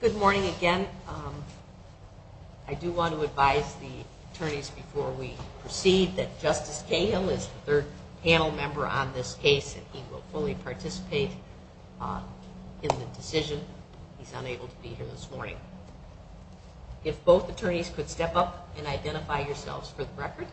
Good morning again. I do want to advise the attorneys before we proceed that Justice Cahill is the third panel member on this case and he will fully participate in the decision. He's unable to be here this morning. If both attorneys could step up and identify yourselves for the record.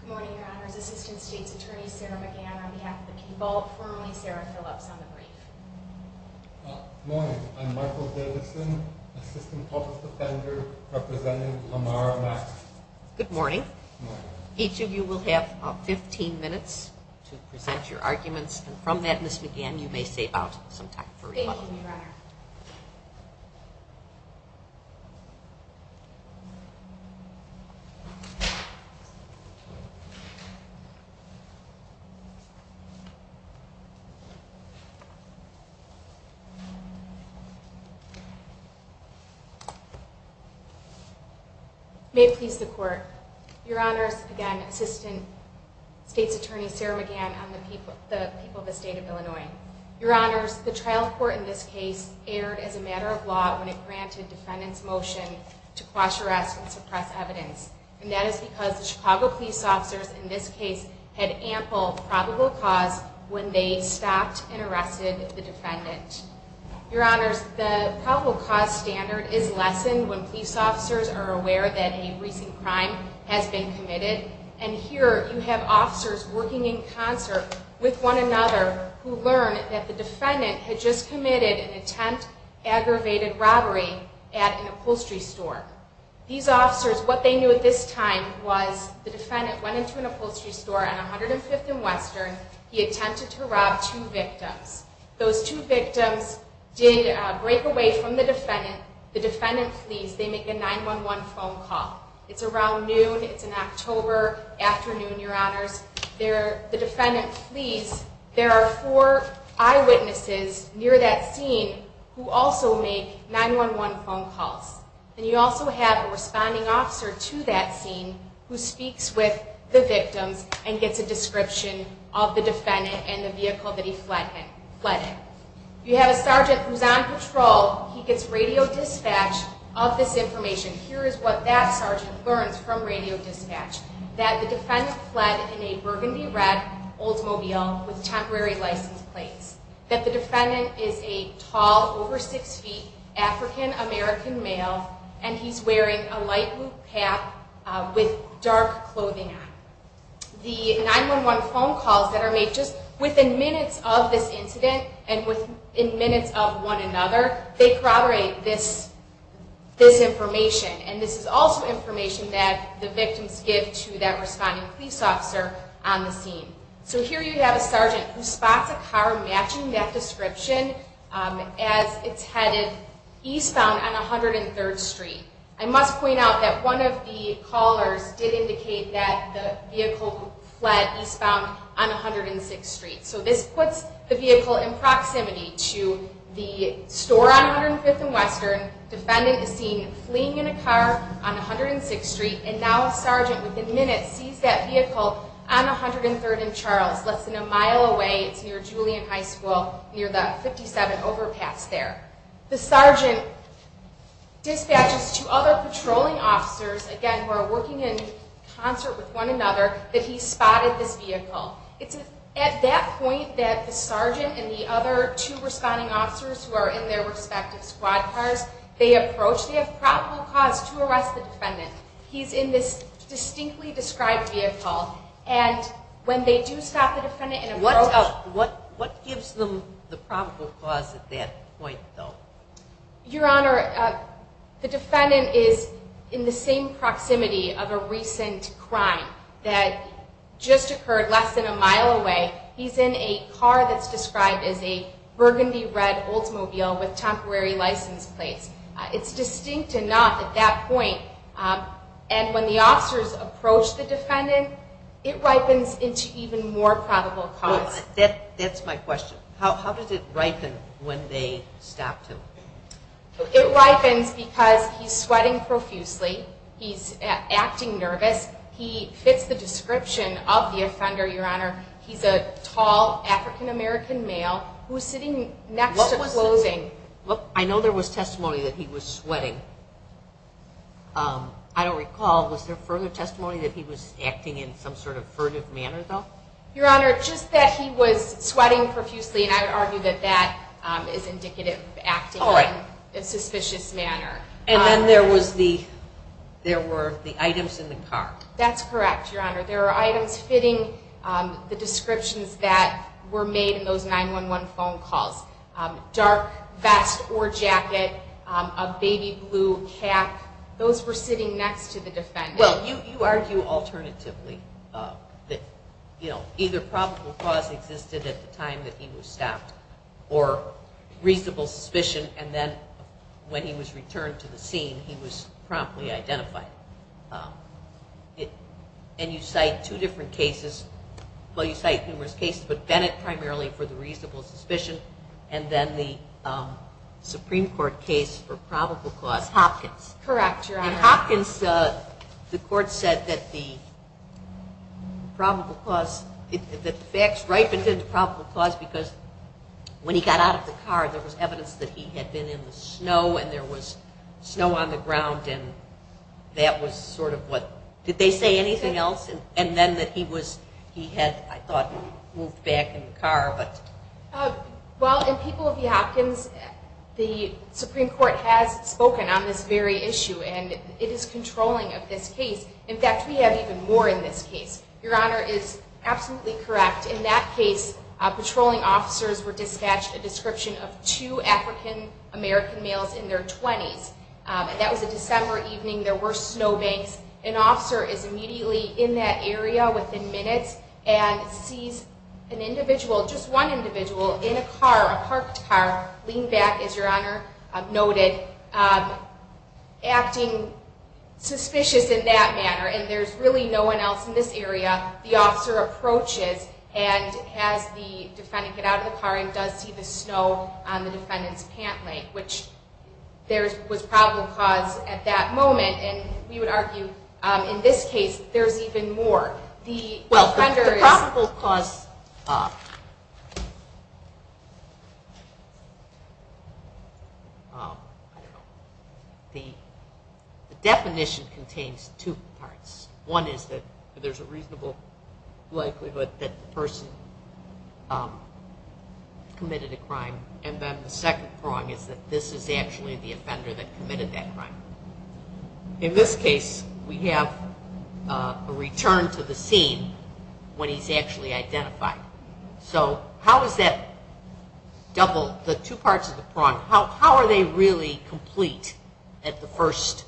Good morning, your honors. Assistant State's Attorney Sarah McGann on behalf of the people. Formerly Sarah Phillips on the brief. Good morning. I'm Michael Davidson, Assistant Public Defender representing Amara Maxey. Good morning. Each of you will have 15 minutes to present your arguments and from that Ms. McGann you may save out some time for rebuttal. Thank you, your honor. May it please the court. Your honors, again, Assistant State's Attorney Sarah McGann on behalf of the people of the state of Illinois. Your honors, the trial court in this case erred as a matter of law when it granted defendants motion to quash arrests and suppress evidence. And that is because the Chicago police officers in this case had ample probable cause when they stopped and arrested the defendant. Your honors, the probable cause standard is lessened when police officers are aware that a recent crime has been committed. And here you have officers working in concert with one another who learn that the defendant had just committed an attempt aggravated robbery at an upholstery store. These officers, what they knew at this time was the defendant went into an upholstery store on 105th and Western. He attempted to rob two victims. Those two victims did break away from the defendant. The defendant flees. They make a 911 phone call. It's around noon. It's in October afternoon, your honors. The defendant flees. There are four eyewitnesses near that scene who also make 911 phone calls. And you also have a responding officer to that scene who speaks with the victims and gets a description of the defendant and the vehicle that he fled in. You have a sergeant who's on patrol. He gets radio dispatch of this information. Here is what that sergeant learns from radio dispatch. That the defendant fled in a burgundy red Oldsmobile with temporary license plates. That the defendant is a tall, over six feet, African American male. And he's wearing a light blue cap with dark clothing on. The 911 phone calls that are made just within minutes of this incident and within minutes of one another, they corroborate this information. And this is also information that the victims give to that responding police officer on the scene. So here you have a sergeant who spots a car matching that description as it's headed eastbound on 103rd Street. I must point out that one of the callers did indicate that the vehicle fled eastbound on 106th Street. So this puts the vehicle in proximity to the store on 105th and Western. Defendant is seen fleeing in a car on 106th Street. And now a sergeant within minutes sees that vehicle on 103rd and Charles, less than a mile away. It's near Julian High School, near the 57 overpass there. The sergeant dispatches two other patrolling officers, again, who are working in concert with one another, that he spotted this vehicle. It's at that point that the sergeant and the other two responding officers who are in their respective squad cars, they approach. They have probable cause to arrest the defendant. He's in this distinctly described vehicle. And when they do stop the defendant and approach... What gives them the probable cause at that point, though? Your Honor, the defendant is in the same proximity of a recent crime that just occurred less than a mile away. He's in a car that's described as a burgundy-red Oldsmobile with temporary license plates. It's distinct and not at that point. And when the officers approach the defendant, it ripens into even more probable cause. That's my question. How does it ripen when they stop him? It ripens because he's sweating profusely. He's acting nervous. He fits the description of the offender, Your Honor. He's a tall African-American male who's sitting next to clothing. I know there was testimony that he was sweating. I don't recall. Was there further testimony that he was acting in some sort of furtive manner, though? Your Honor, just that he was sweating profusely, and I would argue that that is indicative of acting in a suspicious manner. And then there were the items in the car. That's correct, Your Honor. There were items fitting the descriptions that were made in those 911 phone calls. Dark vest or jacket, a baby blue cap. Those were sitting next to the defendant. Well, you argue alternatively that either probable cause existed at the time that he was stopped or reasonable suspicion, and then when he was returned to the scene, he was promptly identified. And you cite two different cases. Well, you cite numerous cases, but Bennett primarily for the reasonable suspicion, and then the Supreme Court case for probable cause Hopkins. Correct, Your Honor. In Hopkins, the court said that the facts ripened into probable cause because when he got out of the car, there was evidence that he had been in the snow, and there was snow on the ground. Did they say anything else? And then that he had, I thought, moved back in the car. Well, in People v. Hopkins, the Supreme Court has spoken on this very issue, and it is controlling of this case. In fact, we have even more in this case. Your Honor is absolutely correct. In that case, patrolling officers were dispatched a description of two African American males in their 20s. That was a December evening. There were snow banks. An officer is immediately in that area within minutes and sees an individual, just one individual, in a car, a parked car, leaned back, as Your Honor noted, acting suspicious in that manner. And there's really no one else in this area. The officer approaches and has the defendant get out of the car and does see the snow on the defendant's pant leg, which was probable cause at that moment. And we would argue in this case, there's even more. The offender is... Well, the probable cause... The definition contains two parts. One is that there's a reasonable likelihood that the person committed a crime. And then the second prong is that this is actually the offender that committed that crime. In this case, we have a return to the scene when he's actually identified. So how is that double, the two parts of the prong, how are they really complete at the first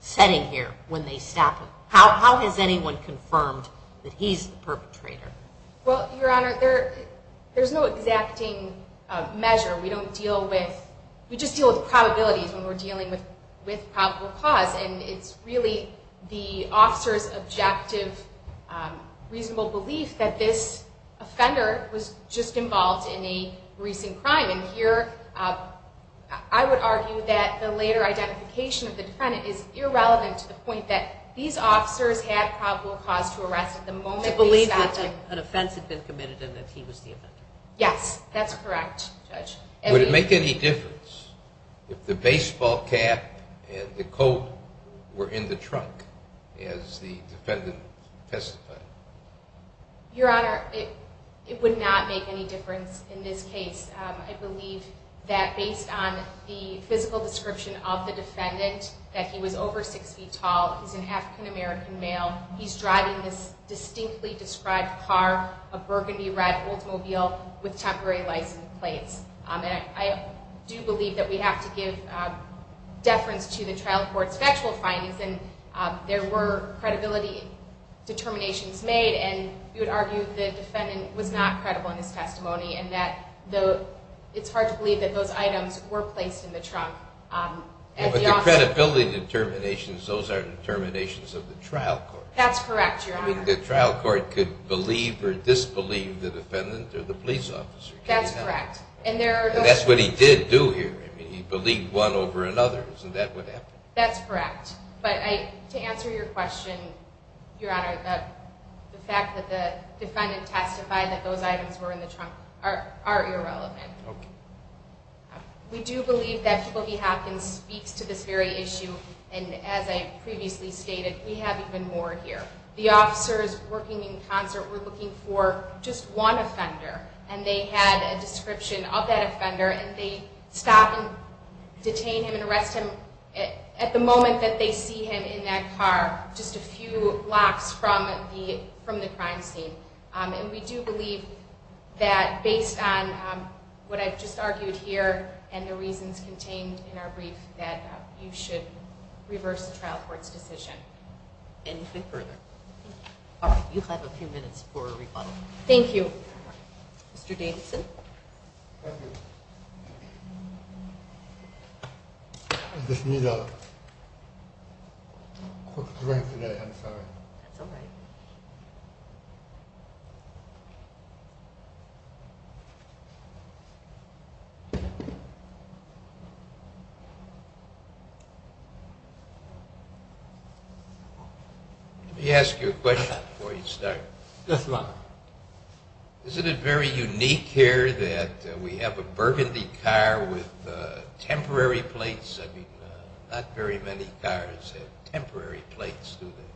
setting here when they stop him? How has anyone confirmed that he's the perpetrator? I believe that an offense had been committed and that he was the offender. Yes, that's correct, Judge. Would it make any difference if the baseball cap and the coat were in the trunk as the defendant testified? Your Honor, it would not make any difference in this case. I believe that based on the physical description of the defendant, that he was over six feet tall, he's an African American male, he's driving this distinctly described car, a burgundy red Oldsmobile with temporary license plates. I do believe that we have to give deference to the trial court's factual findings and there were credibility determinations made and we would argue that the defendant was not credible in his testimony and that it's hard to believe that those items were placed in the trunk. But the credibility determinations, those aren't determinations of the trial court. That's correct, Your Honor. The trial court could believe or disbelieve the defendant or the police officer. That's correct. And that's what he did do here. He believed one over another. Isn't that what happened? That's correct. But to answer your question, Your Honor, the fact that the defendant testified that those items were in the trunk are irrelevant. Okay. We do believe that Phyllis Hopkins speaks to this very issue and as I previously stated, we have even more here. The officers working in concert were looking for just one offender and they had a description of that offender and they stop and detain him and arrest him at the moment that they see him in that car, just a few blocks from the crime scene. And we do believe that based on what I've just argued here and the reasons contained in our brief that you should reverse the trial court's decision. Anything further? All right. You have a few minutes for rebuttal. Thank you. Mr. Davidson? Thank you. I just need a quick drink today. I'm sorry. That's all right. Let me ask you a question before you start. Yes, Your Honor. Isn't it very unique here that we have a burgundy car with temporary plates? I mean, not very many cars have temporary plates, do they?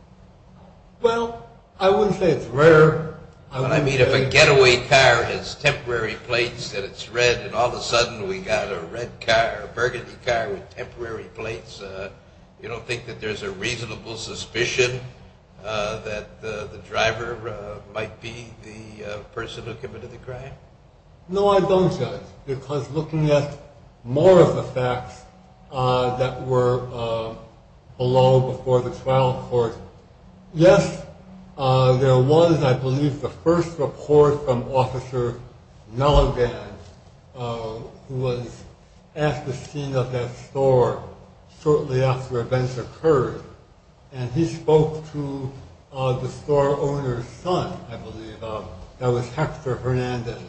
Well, I wouldn't say it's rare. But I mean, if a getaway car has temporary plates and it's red and all of a sudden we got a red car, a burgundy car with temporary plates, you don't think that there's a reasonable suspicion that the driver might be the person who committed the crime? No, I don't judge. Because looking at more of the facts that were below before the trial court, yes, there was, I believe, the first report from Officer Nologan, who was at the scene of that store shortly after events occurred. And he spoke to the store owner's son, I believe, that was Hector Hernandez.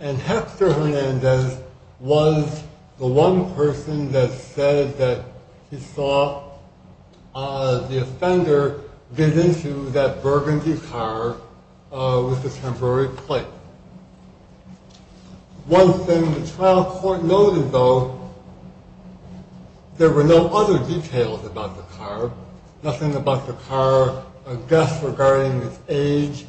And Hector Hernandez was the one person that said that he saw the offender get into that burgundy car with the temporary plate. One thing the trial court noted, though, there were no other details about the car. Nothing about the car, a guess regarding its age,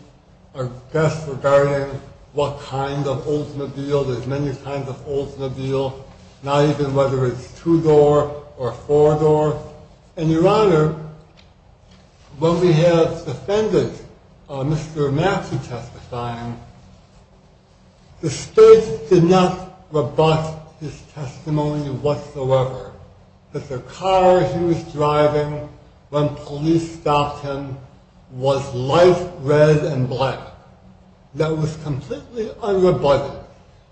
a guess regarding what kind of Oldsmobile. There's many kinds of Oldsmobile, not even whether it's two-door or four-door. And, Your Honor, when we had the defendant, Mr. Mackey, testifying, the state did not rebut his testimony whatsoever that the car he was driving when police stopped him was light red and black. That was completely unrebutted.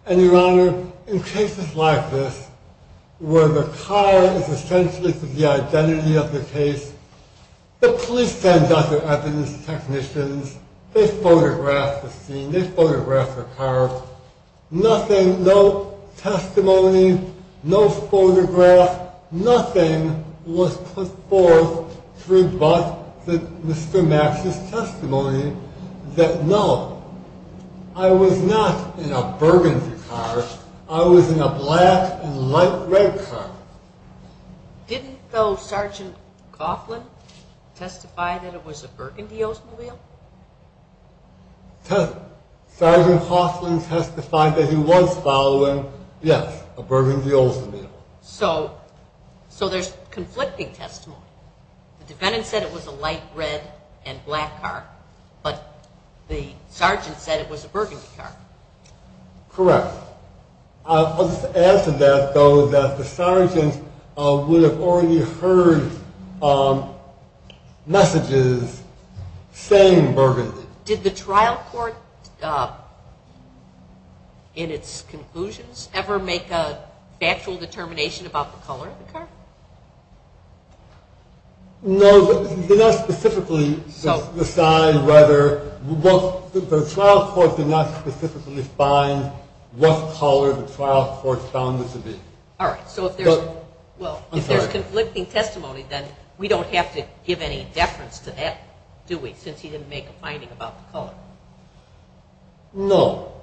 And, Your Honor, in cases like this, where the car is essentially the identity of the case, the police send out their evidence technicians, they photograph the scene, they photograph the car. Nothing, no testimony, no photograph, nothing was put forth to rebut Mr. Mackey's testimony that, no, I was not in a burgundy car. I was in a black and light red car. Didn't, though, Sergeant Coughlin testify that it was a burgundy Oldsmobile? Sergeant Coughlin testified that he was following, yes, a burgundy Oldsmobile. So, there's conflicting testimony. The defendant said it was a light red and black car, but the sergeant said it was a burgundy car. Correct. I'll just add to that, though, that the sergeant would have already heard messages saying burgundy. Did the trial court, in its conclusions, ever make a factual determination about the color of the car? No, they did not specifically decide whether, the trial court did not specifically define what color the trial court found this to be. All right, so if there's conflicting testimony, then we don't have to give any deference to that, do we, since he didn't make a finding about the color? No,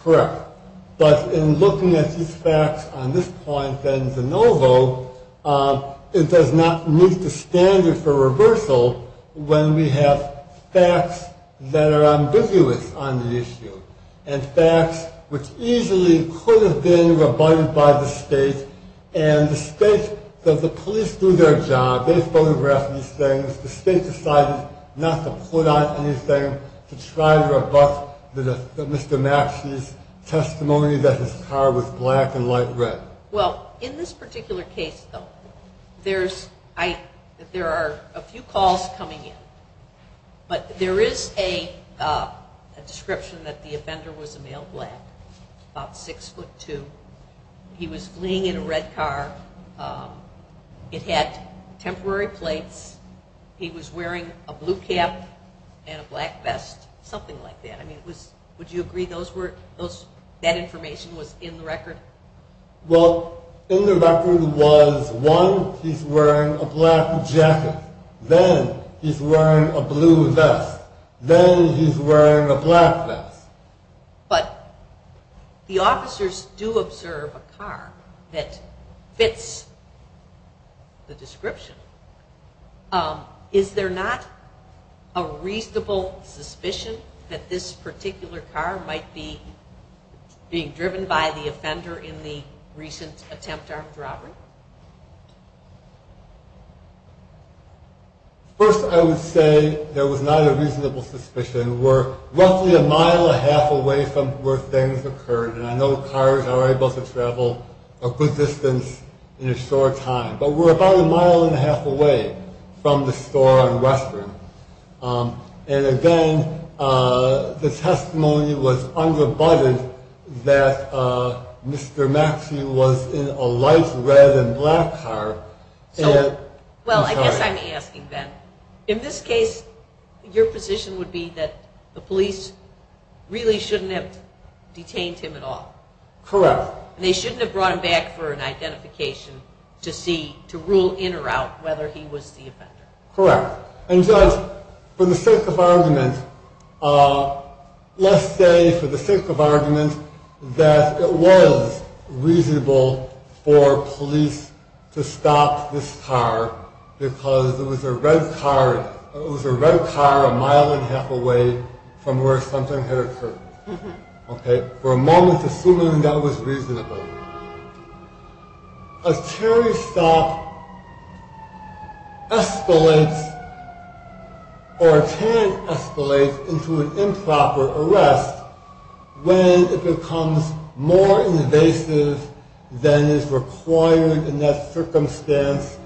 correct. But in looking at these facts on this point, then, de novo, it does not meet the standard for reversal when we have facts that are ambiguous on the issue, and facts which easily could have been rebutted by the state, and the state, the police do their job. The state decided not to put on anything to try to rebut Mr. Maxey's testimony that his car was black and light red. Well, in this particular case, though, there are a few calls coming in, but there is a description that the offender was a male black, about 6'2". He was fleeing in a red car. It had temporary plates. He was wearing a blue cap and a black vest, something like that. I mean, would you agree that information was in the record? Well, in the record was, one, he's wearing a black jacket, then he's wearing a blue vest, then he's wearing a black vest. But the officers do observe a car that fits the description. Is there not a reasonable suspicion that this particular car might be being driven by the offender in the recent attempt armed robbery? First, I would say there was not a reasonable suspicion. We're roughly a mile and a half away from where things occurred, and I know cars are able to travel a good distance in a short time. But we're about a mile and a half away from the store on Western. And again, the testimony was under-butted that Mr. Maxey was in a light red and black car. Well, I guess I'm asking then, in this case, your position would be that the police really shouldn't have detained him at all. Correct. They shouldn't have brought him back for an identification to see, to rule in or out whether he was the offender. Correct. And, Judge, for the sake of argument, let's say for the sake of argument that it was reasonable for police to stop this car because it was a red car a mile and a half away from where something had occurred. For a moment, assuming that was reasonable. A Terry stop escalates or can escalate into an improper arrest when it becomes more invasive than is required in that circumstance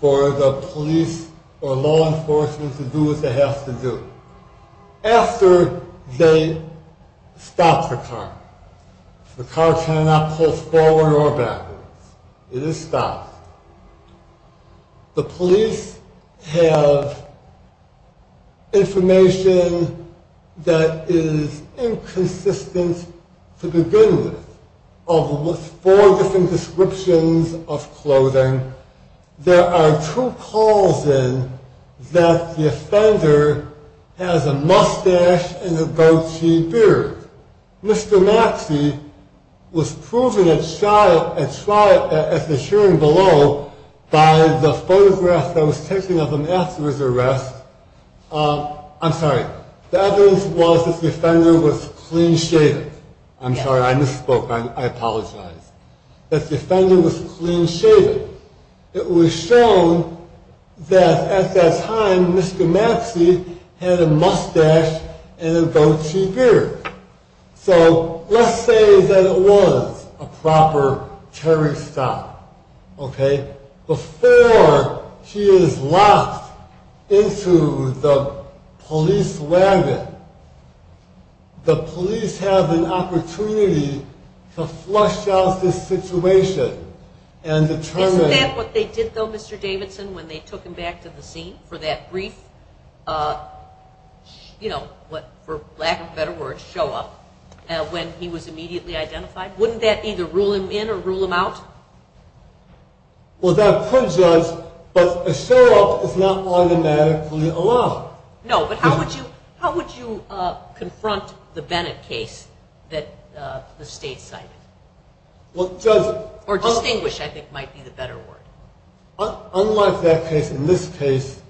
for the police or law enforcement to do what they have to do. After they stop the car, the car cannot pull forward or backwards. It is stopped. The police have information that is inconsistent to begin with. With four different descriptions of clothing, there are two calls in that the offender has a mustache and a goatee beard. Mr. Maxey was proven at trial at the hearing below by the photograph that was taken of him after his arrest. I'm sorry. The evidence was that the offender was clean shaven. I'm sorry. I misspoke. I apologize. That the offender was clean shaven. It was shown that at that time, Mr. Maxey had a mustache and a goatee beard. So let's say that it was a proper Terry stop. Before he is locked into the police wagon, the police have an opportunity to flush out this situation and determine. Isn't that what they did, though, Mr. Davidson, when they took him back to the scene for that brief, you know, for lack of a better word, show up, when he was immediately identified? Wouldn't that either rule him in or rule him out? Well, that could, Judge, but a show up is not automatically allowed. No, but how would you confront the Bennett case that the state cited? Or distinguish, I think, might be the better word. Unlike that case, in this case,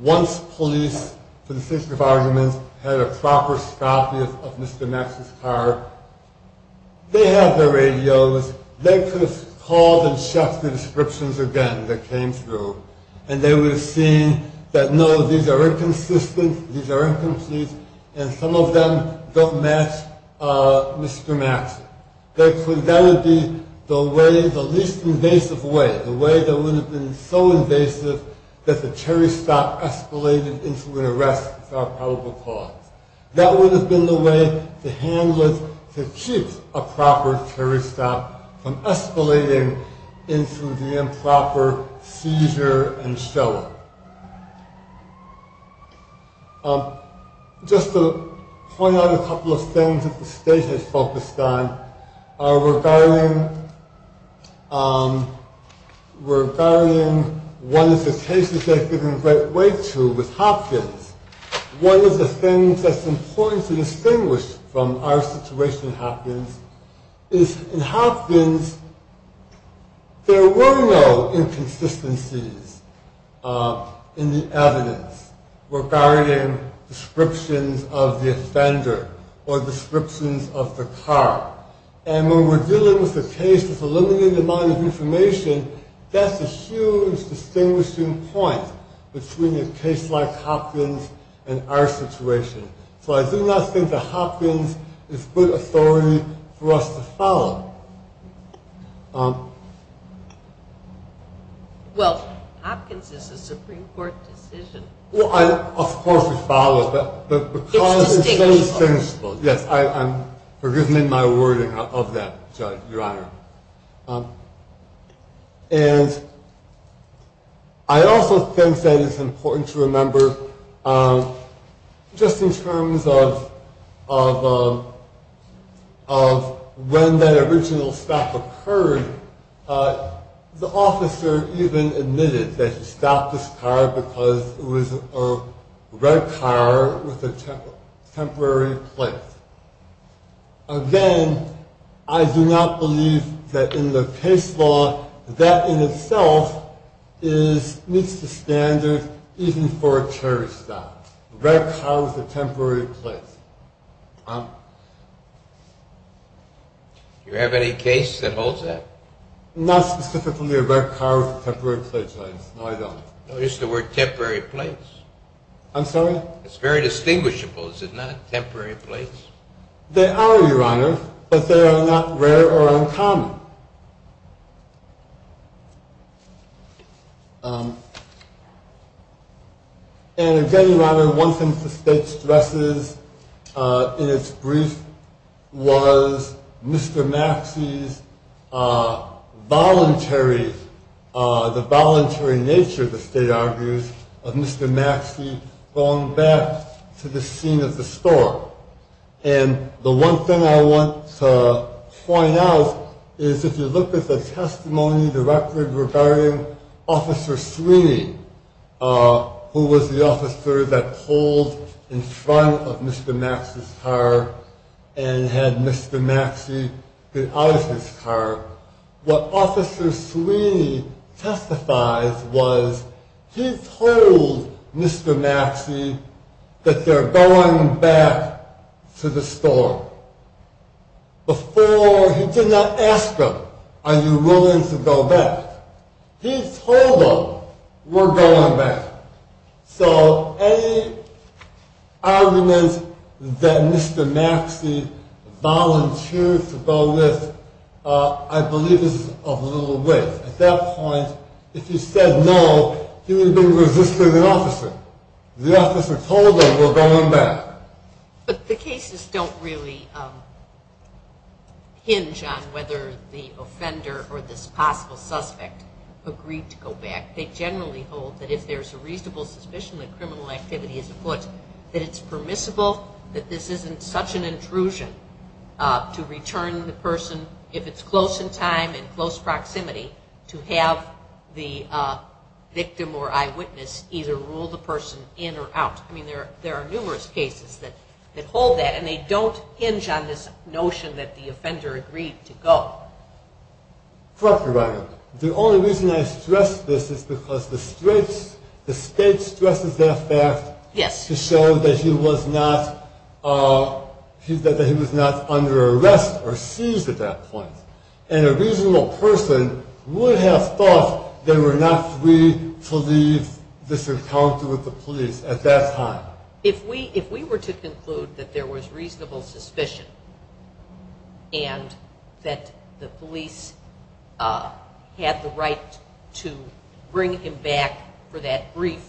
once police, for the sake of arguments, had a proper copy of Mr. Maxey's car, they have the radios. They could have called and checked the descriptions again that came through, and they would have seen that, no, these are inconsistent. These are incomplete. And some of them don't match Mr. Maxey. That would be the least invasive way, the way that would have been so invasive that the Terry stop escalated into an arrest without probable cause. That would have been the way to handle it, to keep a proper Terry stop from escalating into the improper seizure and show up. Just to point out a couple of things that the state has focused on regarding one of the cases they've given great weight to with Hopkins. One of the things that's important to distinguish from our situation in Hopkins is, in Hopkins, there were no inconsistencies. In the evidence regarding descriptions of the offender or descriptions of the car. And when we're dealing with a case that's a limited amount of information, that's a huge distinguishing point between a case like Hopkins and our situation. So I do not think that Hopkins is good authority for us to follow. Well, Hopkins is a Supreme Court decision. Well, of course we follow, but because it's so distinguishable. Yes, I'm forgiving my wording of that, Judge, Your Honor. And I also think that it's important to remember, just in terms of when that original stop occurred, the officer even admitted that he stopped this car because it was a red car with a temporary plate. Again, I do not believe that in the case law, that in itself meets the standard even for a cherry stop. Red car with a temporary plate. Do you have any case that holds that? Not specifically a red car with a temporary plate, Your Honor. No, I don't. Notice the word temporary plates. I'm sorry? It's very distinguishable, is it not? Temporary plates? They are, Your Honor, but they are not rare or uncommon. And again, Your Honor, one thing the state stresses in its brief was Mr. Maxey's voluntary, the voluntary nature, the state argues, of Mr. Maxey going back to the scene of the storm. And the one thing I want to point out is if you look at the testimony directly regarding Officer Sweeney, who was the officer that pulled in front of Mr. Maxey's car and had Mr. Maxey get out of his car, what Officer Sweeney testifies was he told Mr. Maxey that they're going back to the storm. Before, he did not ask them, are you willing to go back? He told them, we're going back. So any argument that Mr. Maxey volunteered to go with, I believe is of little weight. At that point, if he said no, he would have been resisting the officer. The officer told them, we're going back. But the cases don't really hinge on whether the offender or this possible suspect agreed to go back. They generally hold that if there's a reasonable suspicion that criminal activity is afoot, that it's permissible that this isn't such an intrusion to return the person, if it's close in time and close proximity, to have the victim or eyewitness either rule the person in or out. I mean, there are numerous cases that hold that, and they don't hinge on this notion that the offender agreed to go. Correct me, Your Honor. The only reason I stress this is because the state stresses that fact to show that he was not under arrest or seized at that point. And a reasonable person would have thought they were not free to leave this encounter with the police at that time. If we were to conclude that there was reasonable suspicion and that the police had the right to bring him back for that brief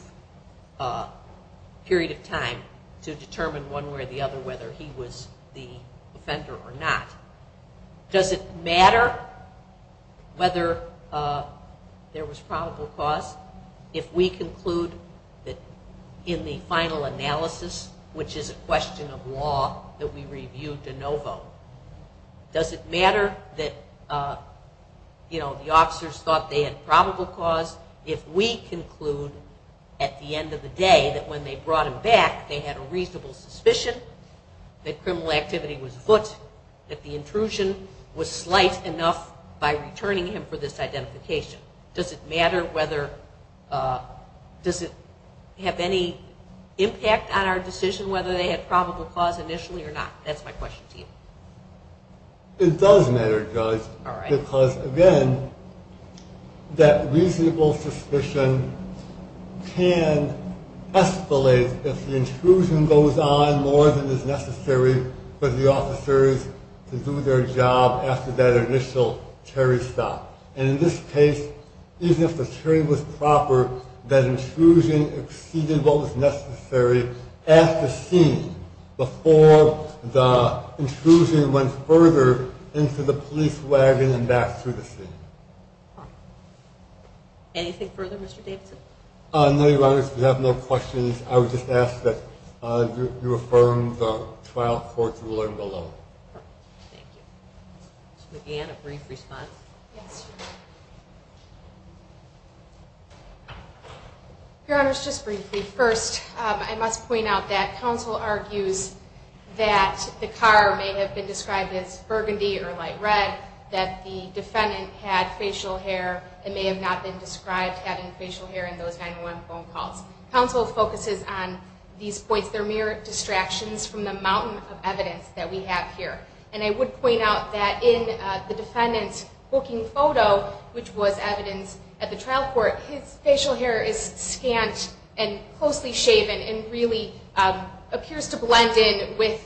period of time to determine one way or the other whether he was the offender or not, does it matter whether there was probable cause? If we conclude that in the final analysis, which is a question of law that we reviewed de novo, does it matter that the officers thought they had probable cause if we conclude at the end of the day that when they brought him back, they had a reasonable suspicion that criminal activity was afoot, that the intrusion was slight enough by returning him for this identification? Does it matter whether, does it have any impact on our decision whether they had probable cause initially or not? That's my question to you. It does matter, Judge, because again, that reasonable suspicion can escalate if the intrusion goes on more than is necessary for the officers to do their job after that initial carry stop. And in this case, even if the carry was proper, that intrusion exceeded what was necessary at the scene before the intrusion went further into the police wagon and back through the scene. Anything further, Mr. Davidson? No, Your Honor. If you have no questions, I would just ask that you affirm the trial court ruling below. Thank you. Ms. McGann, a brief response? Yes, Your Honor. Your Honor, just briefly. First, I must point out that counsel argues that the car may have been described as burgundy or light red, that the defendant had facial hair and may have not been described having facial hair in those 911 phone calls. Counsel focuses on these points. They're mere distractions from the mountain of evidence that we have here. And I would point out that in the defendant's booking photo, which was evidence at the trial court, his facial hair is scant and closely shaven and really appears to blend in with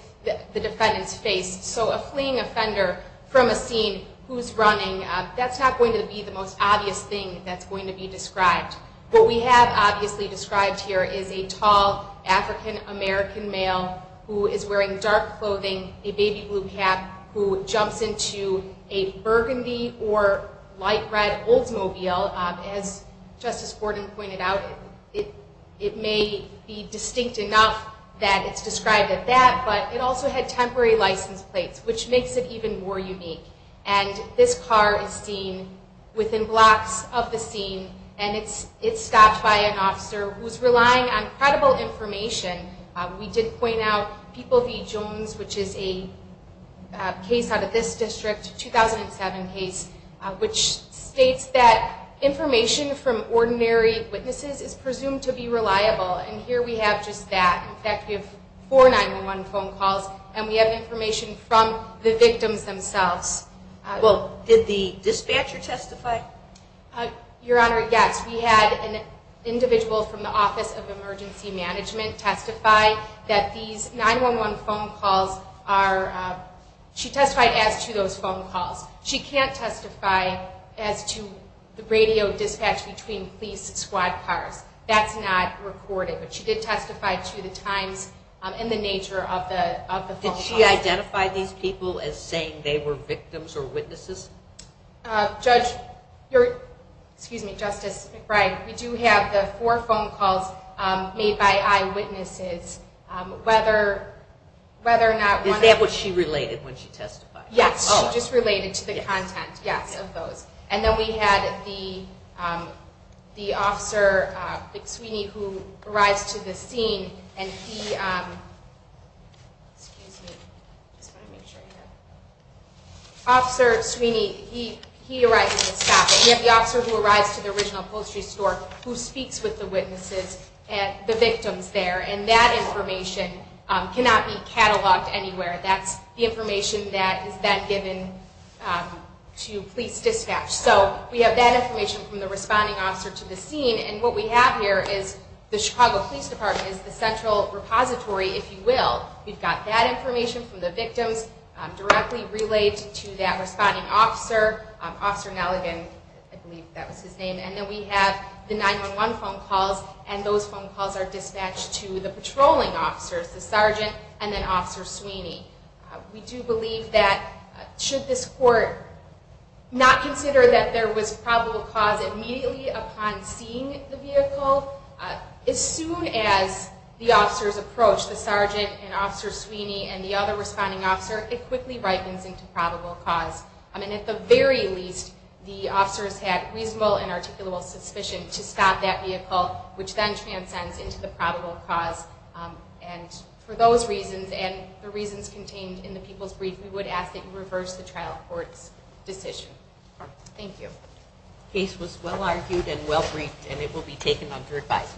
the defendant's face. So a fleeing offender from a scene who's running, that's not going to be the most obvious thing that's going to be described. What we have obviously described here is a tall African-American male who is wearing dark clothing, a baby blue cap, who jumps into a burgundy or light red Oldsmobile. As Justice Gordon pointed out, it may be distinct enough that it's described as that, but it also had temporary license plates, which makes it even more unique. And this car is seen within blocks of the scene, and it's stopped by an officer who's relying on credible information. We did point out People v. Jones, which is a case out of this district, 2007 case, which states that information from ordinary witnesses is presumed to be reliable. And here we have just that. In fact, we have four 911 phone calls, and we have information from the victims themselves. Well, did the dispatcher testify? Your Honor, yes. We had an individual from the Office of Emergency Management testify that these 911 phone calls are – she testified as to those phone calls. She can't testify as to the radio dispatch between police squad cars. That's not recorded. But she did testify to the times and the nature of the phone calls. Did she identify these people as saying they were victims or witnesses? Justice McBride, we do have the four phone calls made by eyewitnesses. Is that what she related when she testified? Yes, she just related to the content, yes, of those. And then we had the officer, Vic Sweeney, who arrives to the scene, and he – excuse me, I just want to make sure here. Officer Sweeney, he arrives at the stop. We have the officer who arrives to the original upholstery store who speaks with the witnesses, the victims there, and that information cannot be cataloged anywhere. That's the information that is then given to police dispatch. So we have that information from the responding officer to the scene, and what we have here is the Chicago Police Department is the central repository, if you will. We've got that information from the victims directly relayed to that responding officer, Officer Nelligan, I believe that was his name. And then we have the 911 phone calls, and those phone calls are dispatched to the patrolling officers, the sergeant and then Officer Sweeney. We do believe that should this court not consider that there was probable cause immediately upon seeing the vehicle, as soon as the officers approach the sergeant and Officer Sweeney and the other responding officer, it quickly ripens into probable cause. I mean, at the very least, the officers had reasonable and articulable suspicion to stop that vehicle, which then transcends into the probable cause. And for those reasons and the reasons contained in the people's brief, we would ask that you reverse the trial court's decision. Thank you. The case was well-argued and well-briefed, and it will be taken under advice.